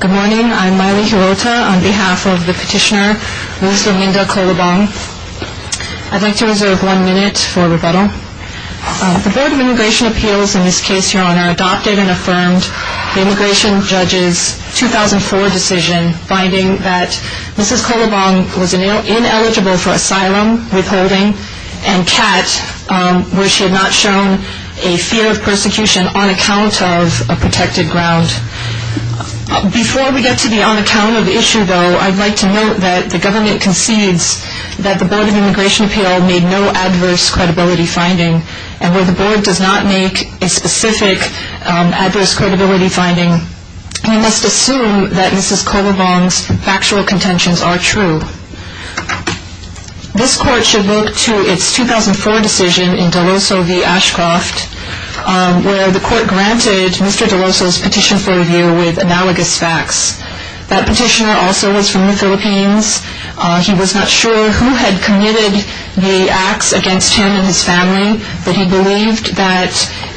Good morning. I'm Maile Hirota on behalf of the petitioner Luzviminda Colobong. I'd like to reserve one minute for rebuttal. The Board of Immigration Appeals in this case, Your Honor, adopted and affirmed the Immigration Judge's 2004 decision finding that Mrs. Colobong was ineligible for asylum, withholding, and CAT, where she had not shown a fear of persecution on account of a protected ground. Before we get to the on-account of issue, though, I'd like to note that the government concedes that the Board of Immigration Appeals made no adverse credibility finding, and where the Board does not make a specific adverse credibility finding, we must assume that Mrs. Colobong's factual contentions are true. This Court should look to its 2004 decision in Deloso v. Ashcroft, where the Court granted Mr. Deloso's petition for review with analogous facts. That petitioner also was from the Philippines. He was not sure who had committed the acts against him and his family, but he believed that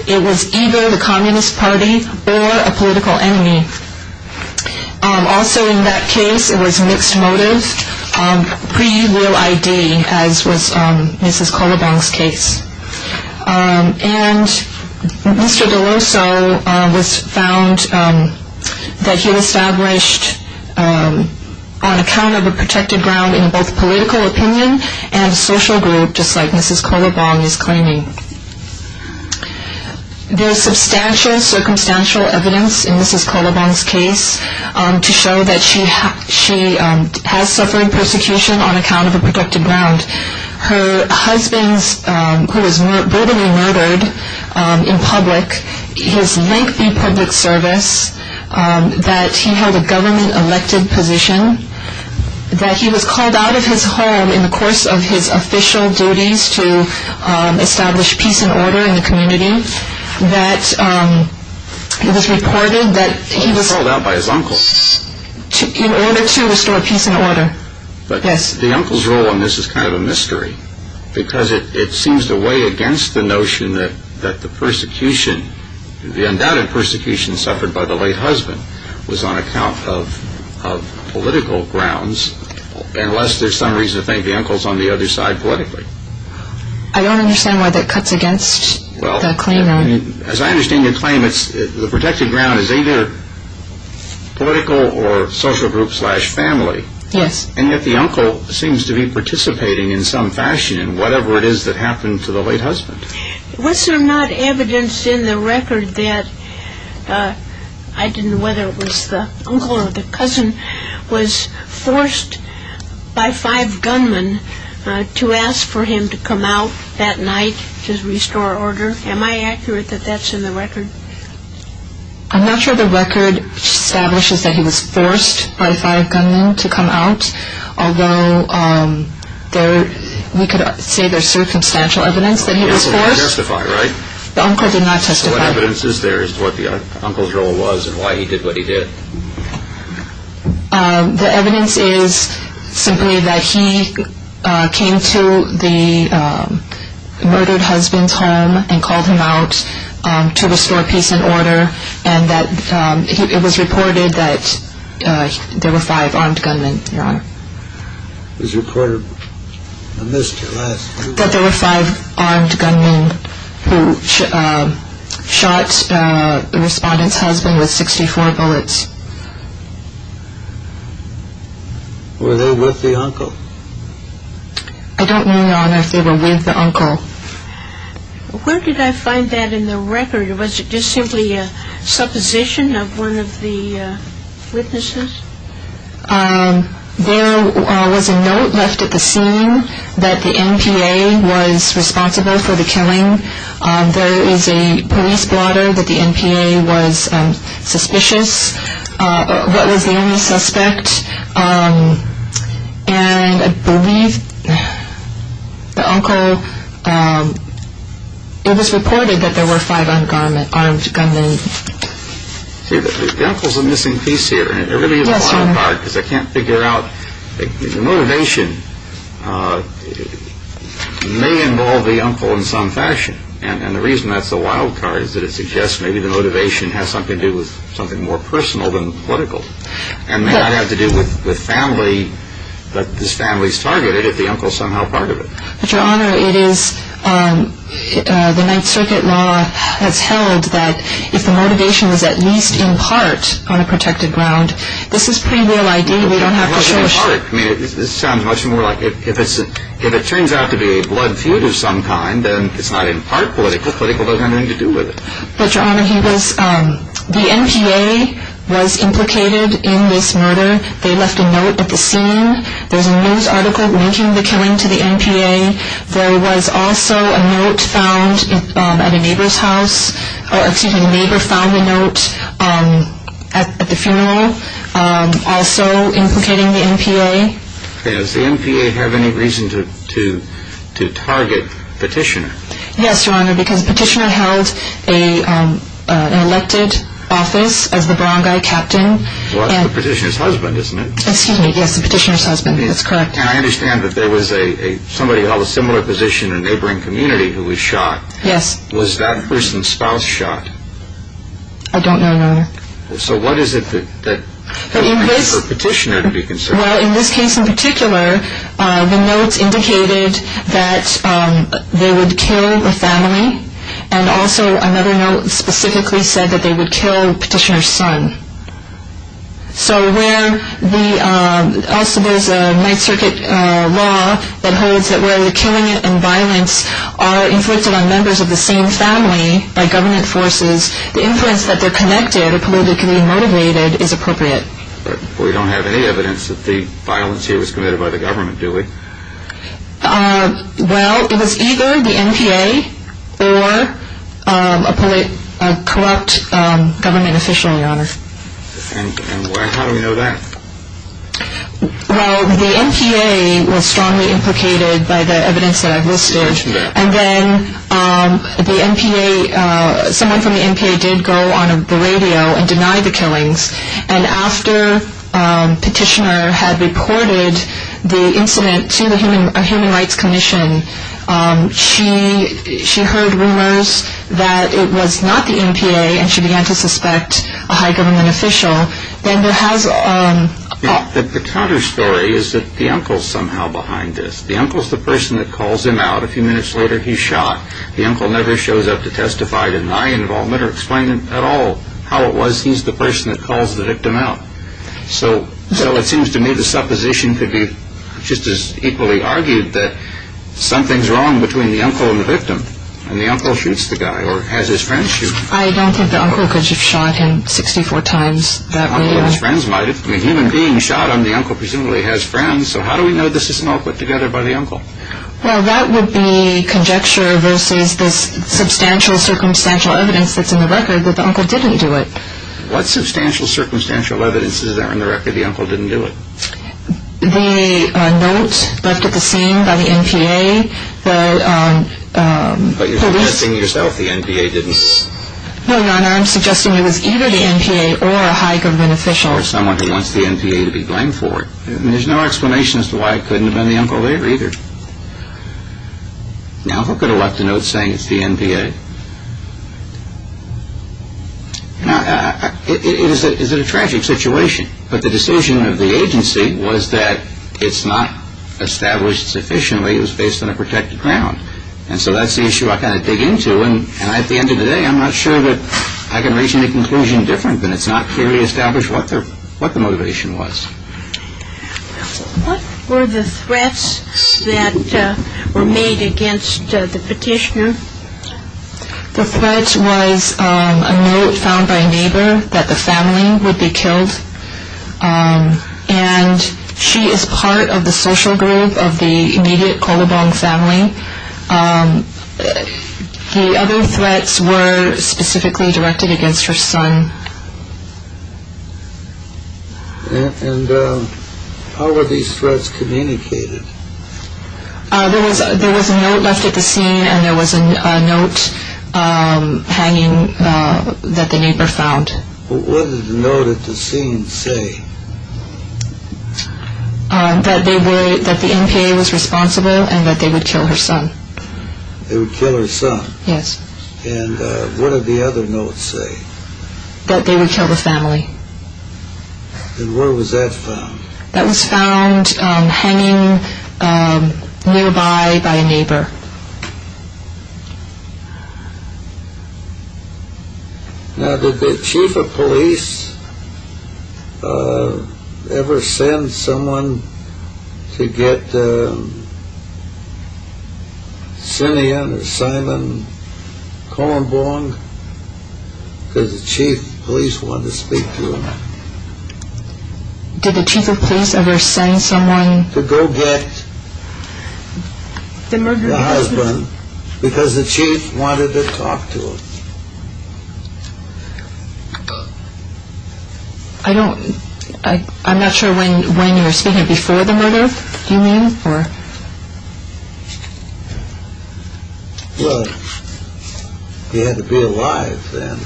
it was either the Communist Party or a political enemy. Also in that case, it was mixed motive, pre-will I.D., as was Mrs. Colobong's case. And Mr. Deloso was found that he was established on account of a protected ground in both political opinion and social group, just like Mrs. Colobong is claiming. There is substantial circumstantial evidence in Mrs. Colobong's case to show that she has suffered persecution on account of a protected ground. Her husband, who was brutally murdered in public, his lengthy public service, that he held a government elected position, that he was called out of his home in the course of his official duties to establish peace and order in the community, that it was reported that he was called out by his uncle in order to restore peace and order. But the uncle's role in this is kind of a mystery, because it seems to weigh against the notion that the persecution, the undoubted persecution suffered by the late husband, was on account of political grounds, unless there's some reason to think the uncle's on the other side politically. I don't understand why that cuts against the claim. As I understand your claim, the protected ground is either political or social group slash family. Yes. And yet the uncle seems to be participating in some fashion in whatever it is that happened to the late husband. Was there not evidence in the record that, I didn't know whether it was the uncle or the cousin, was forced by five gunmen to ask for him to come out that night to restore order? Am I accurate that that's in the record? I'm not sure the record establishes that he was forced by five gunmen to come out, although we could say there's circumstantial evidence that he was forced. The uncle didn't testify, right? The uncle did not testify. So what evidence is there as to what the uncle's role was and why he did what he did? The evidence is simply that he came to the murdered husband's home and called him out to restore peace and order, and that it was reported that there were five armed gunmen, Your Honor. It was reported? I missed it last time. That there were five armed gunmen who shot the respondent's husband with 64 bullets. Were they with the uncle? I don't know, Your Honor, if they were with the uncle. Where did I find that in the record? Was it just simply a supposition of one of the witnesses? There was a note left at the scene that the NPA was responsible for the killing. There is a police blotter that the NPA was suspicious, but was the only suspect, and I believe the uncle, it was reported that there were five armed gunmen. See, the uncle's a missing piece here, and it really is a wild card because I can't figure out. The motivation may involve the uncle in some fashion, and the reason that's a wild card is that it suggests maybe the motivation has something to do with something more personal than political, and may not have to do with family, but this family's targeted if the uncle's somehow part of it. But, Your Honor, it is the Ninth Circuit law that's held that if the motivation is at least in part on a protected ground, this is pretty real ID. We don't have to show a shirt. It's not in part. It sounds much more like if it turns out to be a blood feud of some kind, then it's not in part political. Political doesn't have anything to do with it. But, Your Honor, the NPA was implicated in this murder. They left a note at the scene. There's a news article linking the killing to the NPA. There was also a note found at a neighbor's house, or excuse me, a neighbor found a note at the funeral also implicating the NPA. Does the NPA have any reason to target Petitioner? Yes, Your Honor, because Petitioner held an elected office as the Barangay Captain. Well, that's the Petitioner's husband, isn't it? Excuse me, yes, the Petitioner's husband. That's correct. And I understand that there was somebody of a similar position in a neighboring community who was shot. Yes. Was that person's spouse shot? I don't know, Your Honor. So what is it that would make for Petitioner to be concerned? Well, in this case in particular, the notes indicated that they would kill a family, and also another note specifically said that they would kill Petitioner's son. So where the, also there's a Ninth Circuit law that holds that where the killing and violence are inflicted on members of the same family by government forces, the influence that they're connected or politically motivated is appropriate. But we don't have any evidence that the violence here was committed by the government, do we? Well, it was either the NPA or a corrupt government official, Your Honor. And how do we know that? Well, the NPA was strongly implicated by the evidence that I've listed, and then the NPA, someone from the NPA did go on the radio and deny the killings and after Petitioner had reported the incident to the Human Rights Commission, she heard rumors that it was not the NPA, and she began to suspect a high government official. And there has... The counter story is that the uncle's somehow behind this. The uncle's the person that calls him out. A few minutes later, he's shot. The uncle never shows up to testify to deny involvement or explain at all how it was. He's the person that calls the victim out. So it seems to me the supposition could be just as equally argued that something's wrong between the uncle and the victim, and the uncle shoots the guy or has his friends shoot him. I don't think the uncle could have shot him 64 times that way. The uncle has friends, might have. I mean, a human being shot and the uncle presumably has friends, so how do we know this isn't all put together by the uncle? Well, that would be conjecture versus this substantial circumstantial evidence that's in the record that the uncle didn't do it. What substantial circumstantial evidence is there in the record the uncle didn't do it? The note left at the scene by the NPA that police... But you're suggesting to yourself the NPA didn't... No, Your Honor, I'm suggesting it was either the NPA or a high government official. Or someone who wants the NPA to be blamed for it. And there's no explanation as to why it couldn't have been the uncle later either. Now, who could have left a note saying it's the NPA? Now, is it a tragic situation? But the decision of the agency was that it's not established sufficiently, it was based on a protected ground. And so that's the issue I kind of dig into, and at the end of the day I'm not sure that I can reach any conclusion different than it's not clearly established what the motivation was. What were the threats that were made against the petitioner? The threat was a note found by a neighbor that the family would be killed. And she is part of the social group of the immediate Kolobong family. The other threats were specifically directed against her son. And how were these threats communicated? There was a note left at the scene and there was a note hanging that the neighbor found. What did the note at the scene say? That the NPA was responsible and that they would kill her son. They would kill her son? Yes. And what did the other notes say? That they would kill the family. And where was that found? That was found hanging nearby by a neighbor. Now, did the chief of police ever send someone to get Sinian or Simon Kolobong? Because the chief of police wanted to speak to him. Did the chief of police ever send someone? To go get the husband because the chief wanted to talk to him. I don't, I'm not sure when you're speaking, before the murder you mean? Well, he had to be alive then.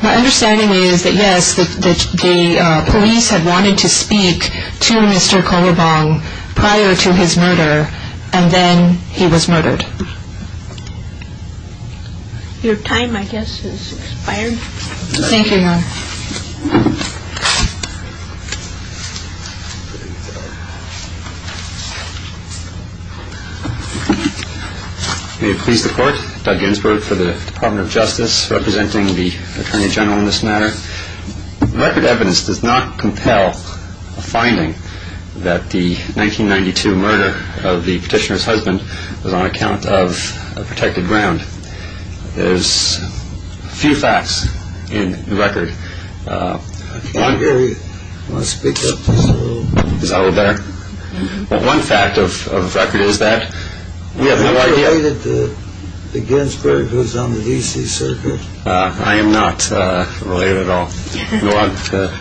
My understanding is that yes, the police had wanted to speak to Mr. Kolobong prior to his murder and then he was murdered. Your time I guess has expired. Thank you, ma'am. There you go. May it please the court, Doug Ginsberg for the Department of Justice, representing the Attorney General in this matter. Record evidence does not compel a finding that the 1992 murder of the petitioner's husband was on account of a protected ground. I want to speak up just a little. Is that a little better? One fact of record is that we have no idea. Are you related to the Ginsberg who was on the D.C. Circuit? I am not related at all. We want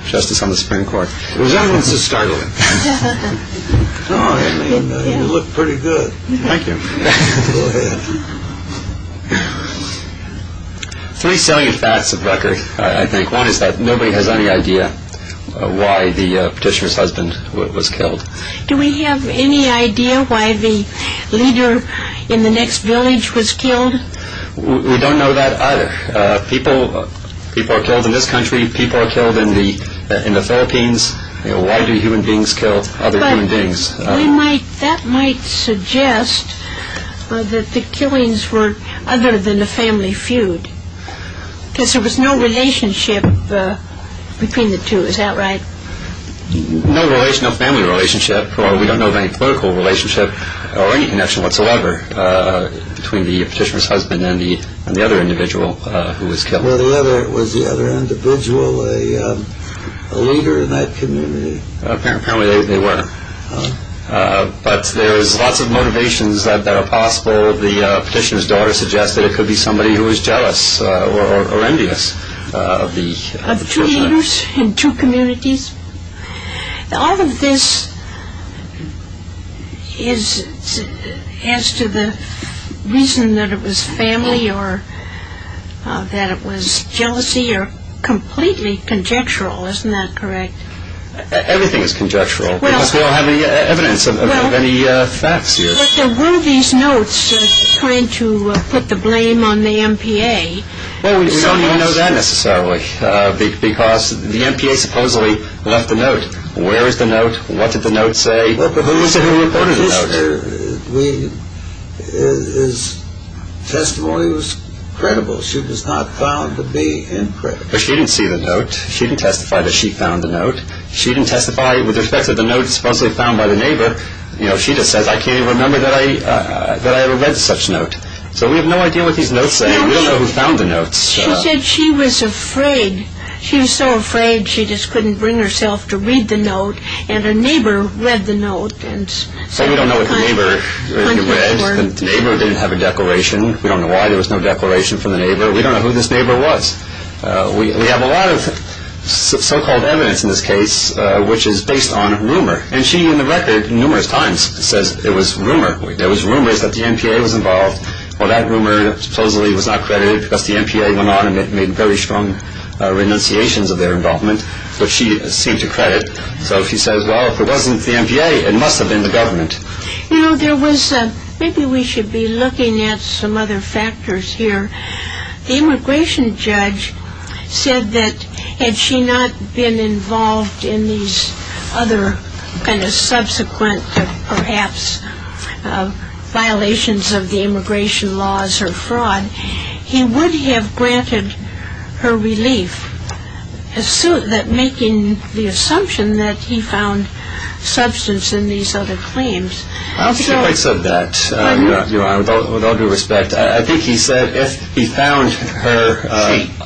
justice on the Supreme Court. Resentance is startling. You look pretty good. Thank you. Go ahead. Three selling facts of record, I think. One is that nobody has any idea why the petitioner's husband was killed. Do we have any idea why the leader in the next village was killed? We don't know that either. People are killed in this country. People are killed in the Philippines. Why do human beings kill other human beings? That might suggest that the killings were other than a family feud, because there was no relationship between the two. Is that right? No family relationship. We don't know of any political relationship or any connection whatsoever between the petitioner's husband and the other individual who was killed. Was the other individual a leader in that community? Apparently they were. But there's lots of motivations that are possible. The petitioner's daughter suggested it could be somebody who was jealous or envious of the killer. Of two leaders in two communities? All of this is as to the reason that it was family or that it was jealousy are completely conjectural. Isn't that correct? Everything is conjectural. We don't have any evidence of any facts here. Were these notes trying to put the blame on the MPA? We don't even know that necessarily, because the MPA supposedly left the note. Where is the note? What did the note say? Who recorded the note? His testimony was credible. She was not found to be incorrect. But she didn't see the note. She didn't testify that she found the note. She didn't testify with respect to the note supposedly found by the neighbor. She just says, I can't even remember that I ever read such note. So we have no idea what these notes say. We don't know who found the notes. She said she was afraid. She was so afraid she just couldn't bring herself to read the note. And her neighbor read the note. So we don't know what the neighbor read. The neighbor didn't have a declaration. We don't know why there was no declaration from the neighbor. We don't know who this neighbor was. We have a lot of so-called evidence in this case which is based on rumor. And she, in the record, numerous times says it was rumor. There was rumors that the MPA was involved. Well, that rumor supposedly was not credited because the MPA went on and made very strong renunciations of their involvement, which she seemed to credit. So she says, well, if it wasn't the MPA, it must have been the government. Maybe we should be looking at some other factors here. The immigration judge said that had she not been involved in these other kind of subsequent perhaps violations of the immigration laws or fraud, he would have granted her relief, making the assumption that he found substance in these other claims. I don't think he quite said that, Your Honor, with all due respect. I think he said if he found her—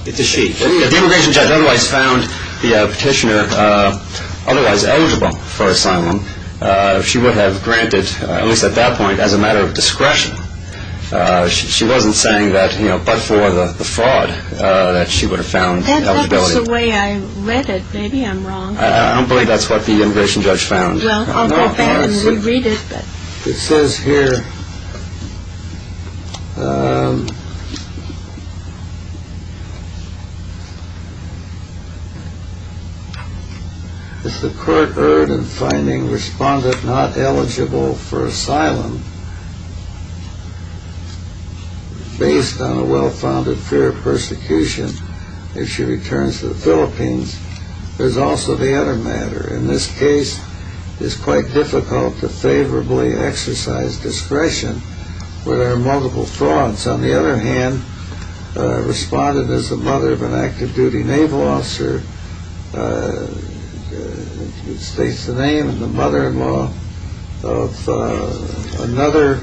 It's a she. If the immigration judge otherwise found the petitioner otherwise eligible for asylum, she would have granted, at least at that point, as a matter of discretion. She wasn't saying that but for the fraud that she would have found eligibility. That's the way I read it. Maybe I'm wrong. I don't believe that's what the immigration judge found. Well, I'll go back and reread it. It says here, As the court erred in finding respondent not eligible for asylum based on a well-founded fear of persecution, if she returns to the Philippines, there's also the other matter. In this case, it's quite difficult to favorably exercise discretion where there are multiple frauds. On the other hand, respondent is the mother of an active-duty naval officer, which states the name, and the mother-in-law of another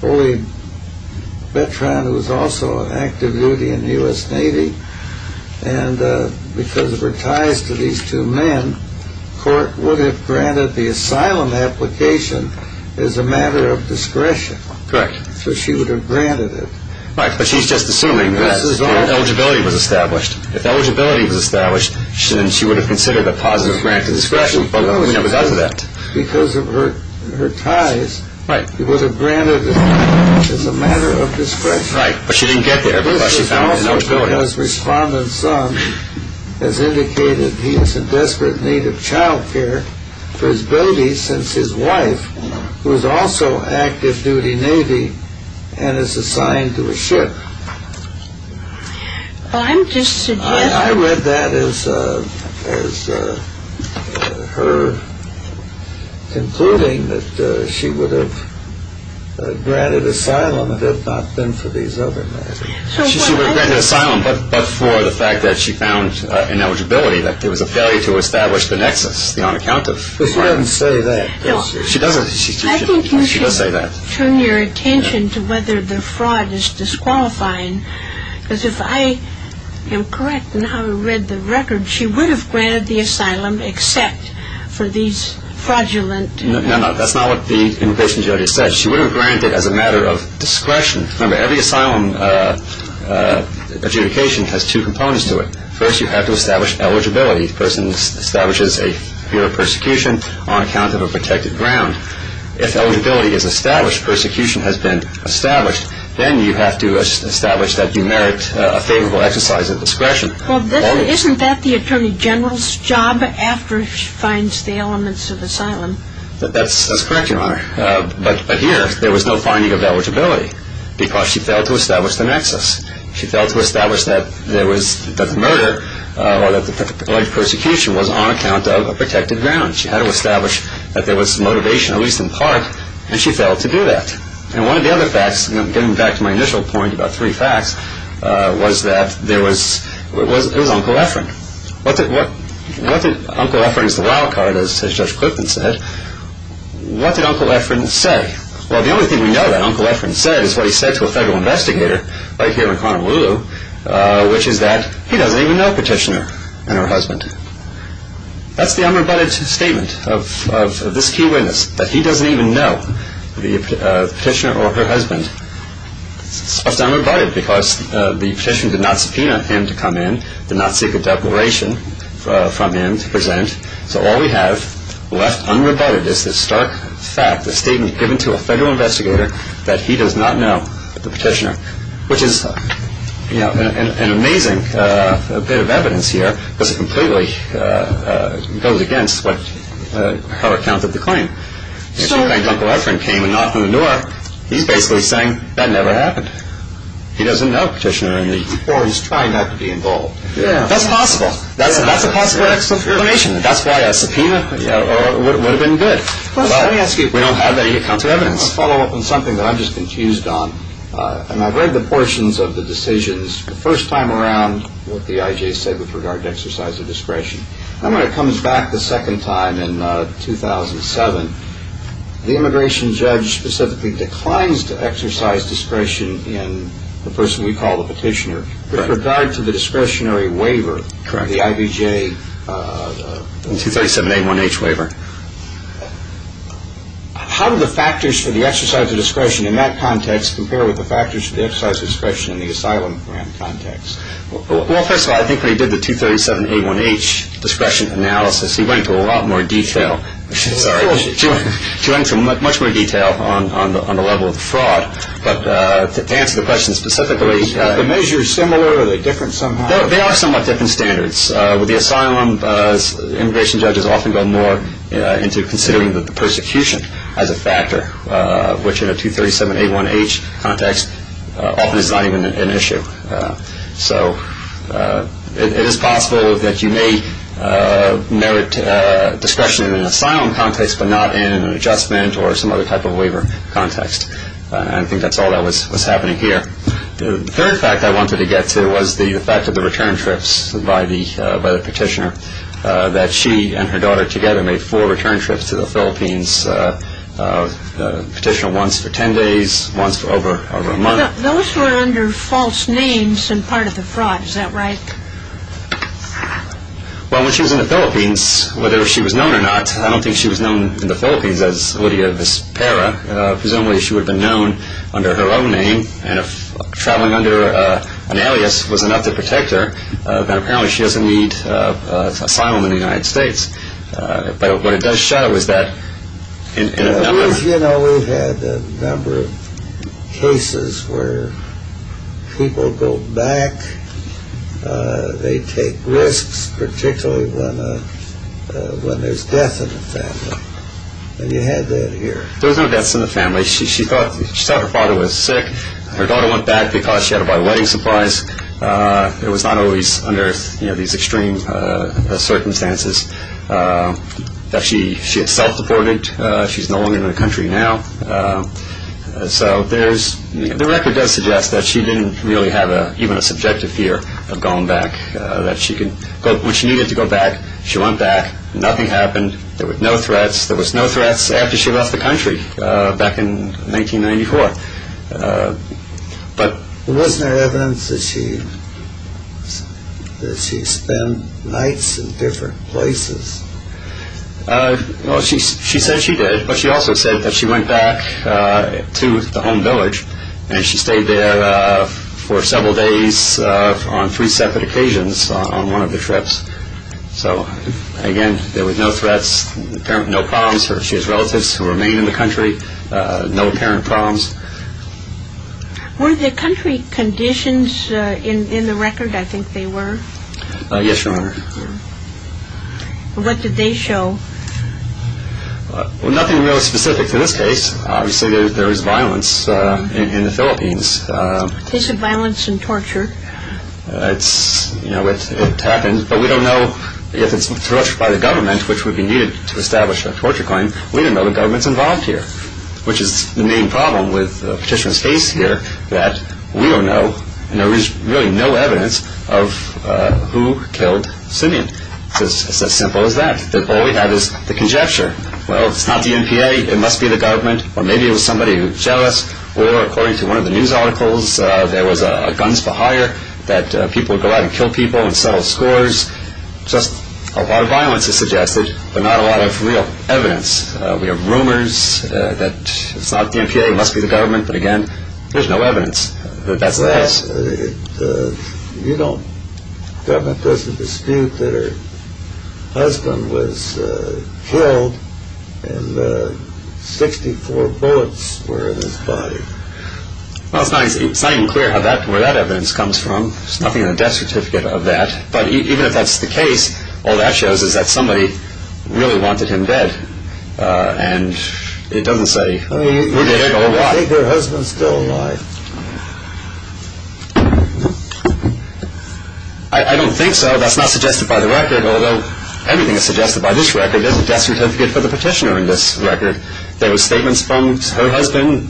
fully veteran who was also on active duty in the U.S. Navy. And because of her ties to these two men, the court would have granted the asylum application as a matter of discretion. Correct. So she would have granted it. Right, but she's just assuming that eligibility was established. If eligibility was established, then she would have considered a positive grant of discretion, but she never does that. Because of her ties, she would have granted it as a matter of discretion. Right, but she didn't get there because she found an eligibility. The mother-in-law's respondent son has indicated he is in desperate need of child care for his baby since his wife, who is also active-duty Navy and is assigned to a ship. I read that as her concluding that she would have granted asylum if it had not been for these other matters. She would have granted asylum, but for the fact that she found an eligibility, that it was a failure to establish the nexus, the on-account of. But she doesn't say that. She does say that. I think you should turn your attention to whether the fraud is disqualifying, because if I am correct in how I read the record, she would have granted the asylum except for these fraudulent. No, no, that's not what the invocation judge said. She would have granted as a matter of discretion. Remember, every asylum adjudication has two components to it. First, you have to establish eligibility. The person establishes a fear of persecution on account of a protected ground. If eligibility is established, persecution has been established, then you have to establish that you merit a favorable exercise of discretion. Well, isn't that the Attorney General's job after she finds the elements of asylum? That's correct, Your Honor. But here, there was no finding of eligibility because she failed to establish the nexus. She failed to establish that the murder or that the alleged persecution was on account of a protected ground. She had to establish that there was motivation, at least in part, and she failed to do that. And one of the other facts, getting back to my initial point about three facts, was that there was Uncle Efron. What did Uncle Efron's wild card, as Judge Clifton said, what did Uncle Efron say? Well, the only thing we know that Uncle Efron said is what he said to a federal investigator right here in Honolulu, which is that he doesn't even know Petitioner and her husband. That's the unrebutted statement of this key witness, that he doesn't even know the Petitioner or her husband. It's unrebutted because the Petitioner did not subpoena him to come in, did not seek a declaration from him to present, so all we have left unrebutted is this stark fact, a statement given to a federal investigator that he does not know the Petitioner, which is an amazing bit of evidence here because it completely goes against her account of the claim. If she claims Uncle Efron came and knocked on the door, he's basically saying that never happened. He doesn't know Petitioner. Or he's trying not to be involved. That's possible. That's a possible explanation. That's why a subpoena would have been good. Let me ask you, if we don't have that, you can come to evidence. I want to follow up on something that I'm just confused on, and I've read the portions of the decisions the first time around with what the IJ said with regard to exercise of discretion. Then when it comes back the second time in 2007, the immigration judge specifically declines to exercise discretion in the person we call the Petitioner. With regard to the discretionary waiver, the IBJ 237A1H waiver, how do the factors for the exercise of discretion in that context compare with the factors for the exercise of discretion in the asylum program context? Well, first of all, I think when he did the 237A1H discretion analysis, he went into a lot more detail. Sorry. He went into much more detail on the level of fraud. To answer the question specifically... Are the measures similar or are they different somehow? They are somewhat different standards. With the asylum, immigration judges often go more into considering the persecution as a factor, which in a 237A1H context often is not even an issue. So it is possible that you may merit discretion in an asylum context but not in an adjustment or some other type of waiver context. I think that's all that was happening here. The third fact I wanted to get to was the fact of the return trips by the Petitioner, that she and her daughter together made four return trips to the Philippines. The Petitioner once for 10 days, once for over a month. Those were under false names and part of the fraud. Is that right? Well, when she was in the Philippines, whether she was known or not, I don't think she was known in the Philippines as Lydia Vizpera. Presumably she would have been known under her own name and if traveling under an alias was enough to protect her, then apparently she doesn't need asylum in the United States. But what it does show is that... You know, we've had a number of cases where people go back, they take risks, particularly when there's death in the family. And you had that here. There was no deaths in the family. She thought her father was sick. Her daughter went back because she had to buy wedding supplies. It was not always under these extreme circumstances. In fact, she had self-deported. She's no longer in the country now. So the record does suggest that she didn't really have even a subjective fear of going back. When she needed to go back, she went back. Nothing happened. There were no threats. There were no threats after she left the country back in 1994. But wasn't there evidence that she spent nights in different places? Well, she said she did. But she also said that she went back to the home village and she stayed there for several days on three separate occasions on one of the trips. So, again, there were no threats, no problems. She has relatives who remain in the country, no apparent problems. Were there country conditions in the record? I think they were. Yes, Your Honor. What did they show? Nothing really specific to this case. Obviously, there was violence in the Philippines. A case of violence and torture. It happened, but we don't know if it's torture by the government, which would be needed to establish a torture claim. We don't know the government's involved here, which is the main problem with the petitioner's case here, that we don't know and there is really no evidence of who killed Simeon. It's as simple as that. All we have is the conjecture. Well, it's not the NPA. It must be the government, or maybe it was somebody who was jealous. Or, according to one of the news articles, there was a guns for hire that people would go out and kill people and settle scores. Just a lot of violence is suggested, but not a lot of real evidence. We have rumors that it's not the NPA. It must be the government. But, again, there's no evidence that that's the case. The government doesn't dispute that her husband was killed and that 64 bullets were in his body. It's not even clear where that evidence comes from. There's nothing in the death certificate of that. But even if that's the case, all that shows is that somebody really wanted him dead. And it doesn't say who did it or why. Do you think her husband is still alive? I don't think so. That's not suggested by the record, although everything is suggested by this record. There's a death certificate for the petitioner in this record. There were statements from her husband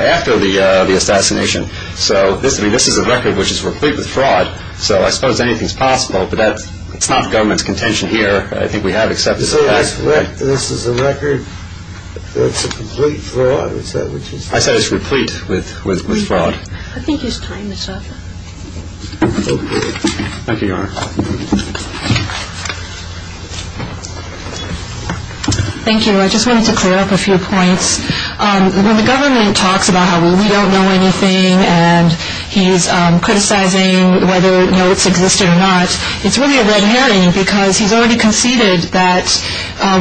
after the assassination. This is a record which is replete with fraud, so I suppose anything is possible. But it's not government's contention here. I think we have accepted that. So this is a record that's a complete fraud? Is that what you said? I said it's replete with fraud. I think it's time to stop. Thank you, Your Honor. Thank you. I just wanted to clear up a few points. When the government talks about how we don't know anything and he's criticizing whether notes existed or not, it's really a red herring because he's already conceded that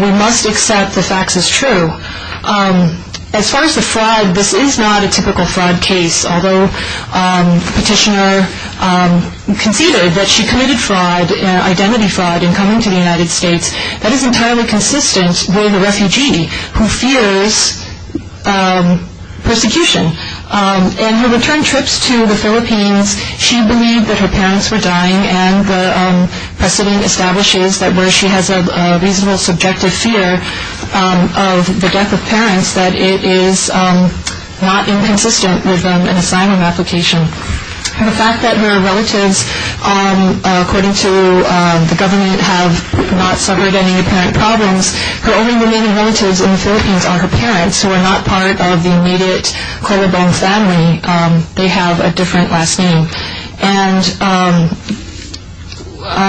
we must accept the facts as true. As far as the fraud, this is not a typical fraud case, although the petitioner conceded that she committed fraud, identity fraud, in coming to the United States. That is entirely consistent with a refugee who fears persecution. In her return trips to the Philippines, she believed that her parents were dying and the precedent establishes that where she has a reasonable subjective fear of the death of parents, that it is not inconsistent with an asylum application. And the fact that her relatives, according to the government, have not suffered any apparent problems, her only remaining relatives in the Philippines are her parents, who are not part of the immediate Colobong family. They have a different last name. And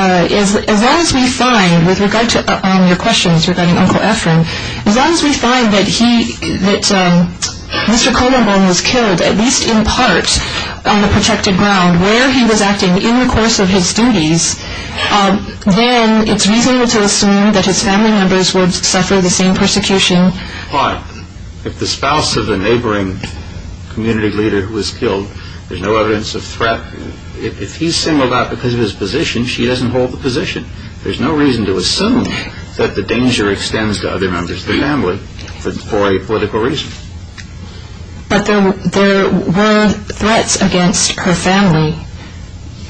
as long as we find, with regard to your questions regarding Uncle Ephraim, as long as we find that Mr. Colobong was killed, at least in part on the protected ground where he was acting in the course of his duties, then it's reasonable to assume that his family members would suffer the same persecution. But if the spouse of the neighboring community leader who was killed, there's no evidence of threat, if he's singled out because of his position, she doesn't hold the position. There's no reason to assume that the danger extends to other members of the family for a political reason. But there were threats against her family.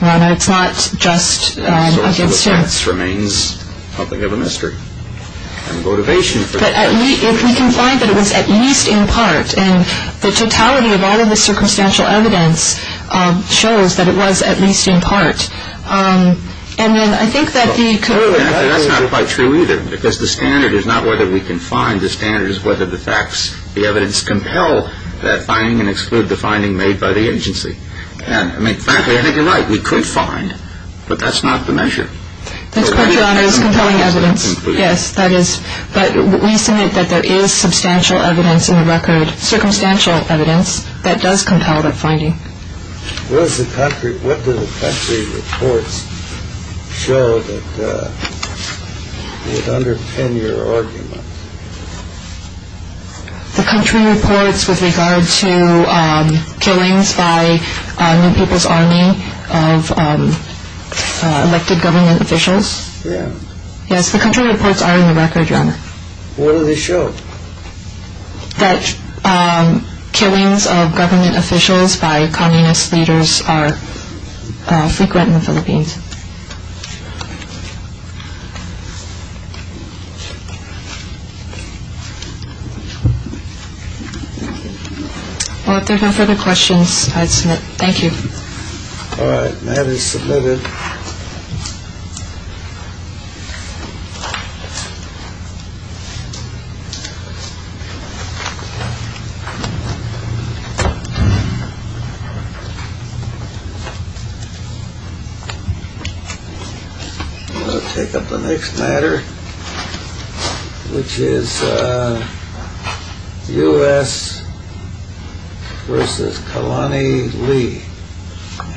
It's not just against her. That remains something of a mystery. But if we can find that it was at least in part, and the totality of all of the circumstantial evidence shows that it was at least in part, and then I think that the... That's not quite true either, because the standard is not whether we can find. The standard is whether the facts, the evidence, compel that finding and exclude the finding made by the agency. Frankly, I think you're right. We could find, but that's not the measure. This question is on compelling evidence. Yes, that is. But we submit that there is substantial evidence in the record, circumstantial evidence, that does compel that finding. What do the country reports show that would underpin your argument? The country reports with regard to killings by New People's Army of elected government officials? Yes. Yes, the country reports are in the record, Your Honor. What do they show? That killings of government officials by communist leaders are frequent in the Philippines. Well, if there are no further questions, I'd submit. Thank you. All right. The matter is submitted. I'll take up the next matter, which is U.S. versus Kalani Lee. Thank you, Your Honor. Thank you.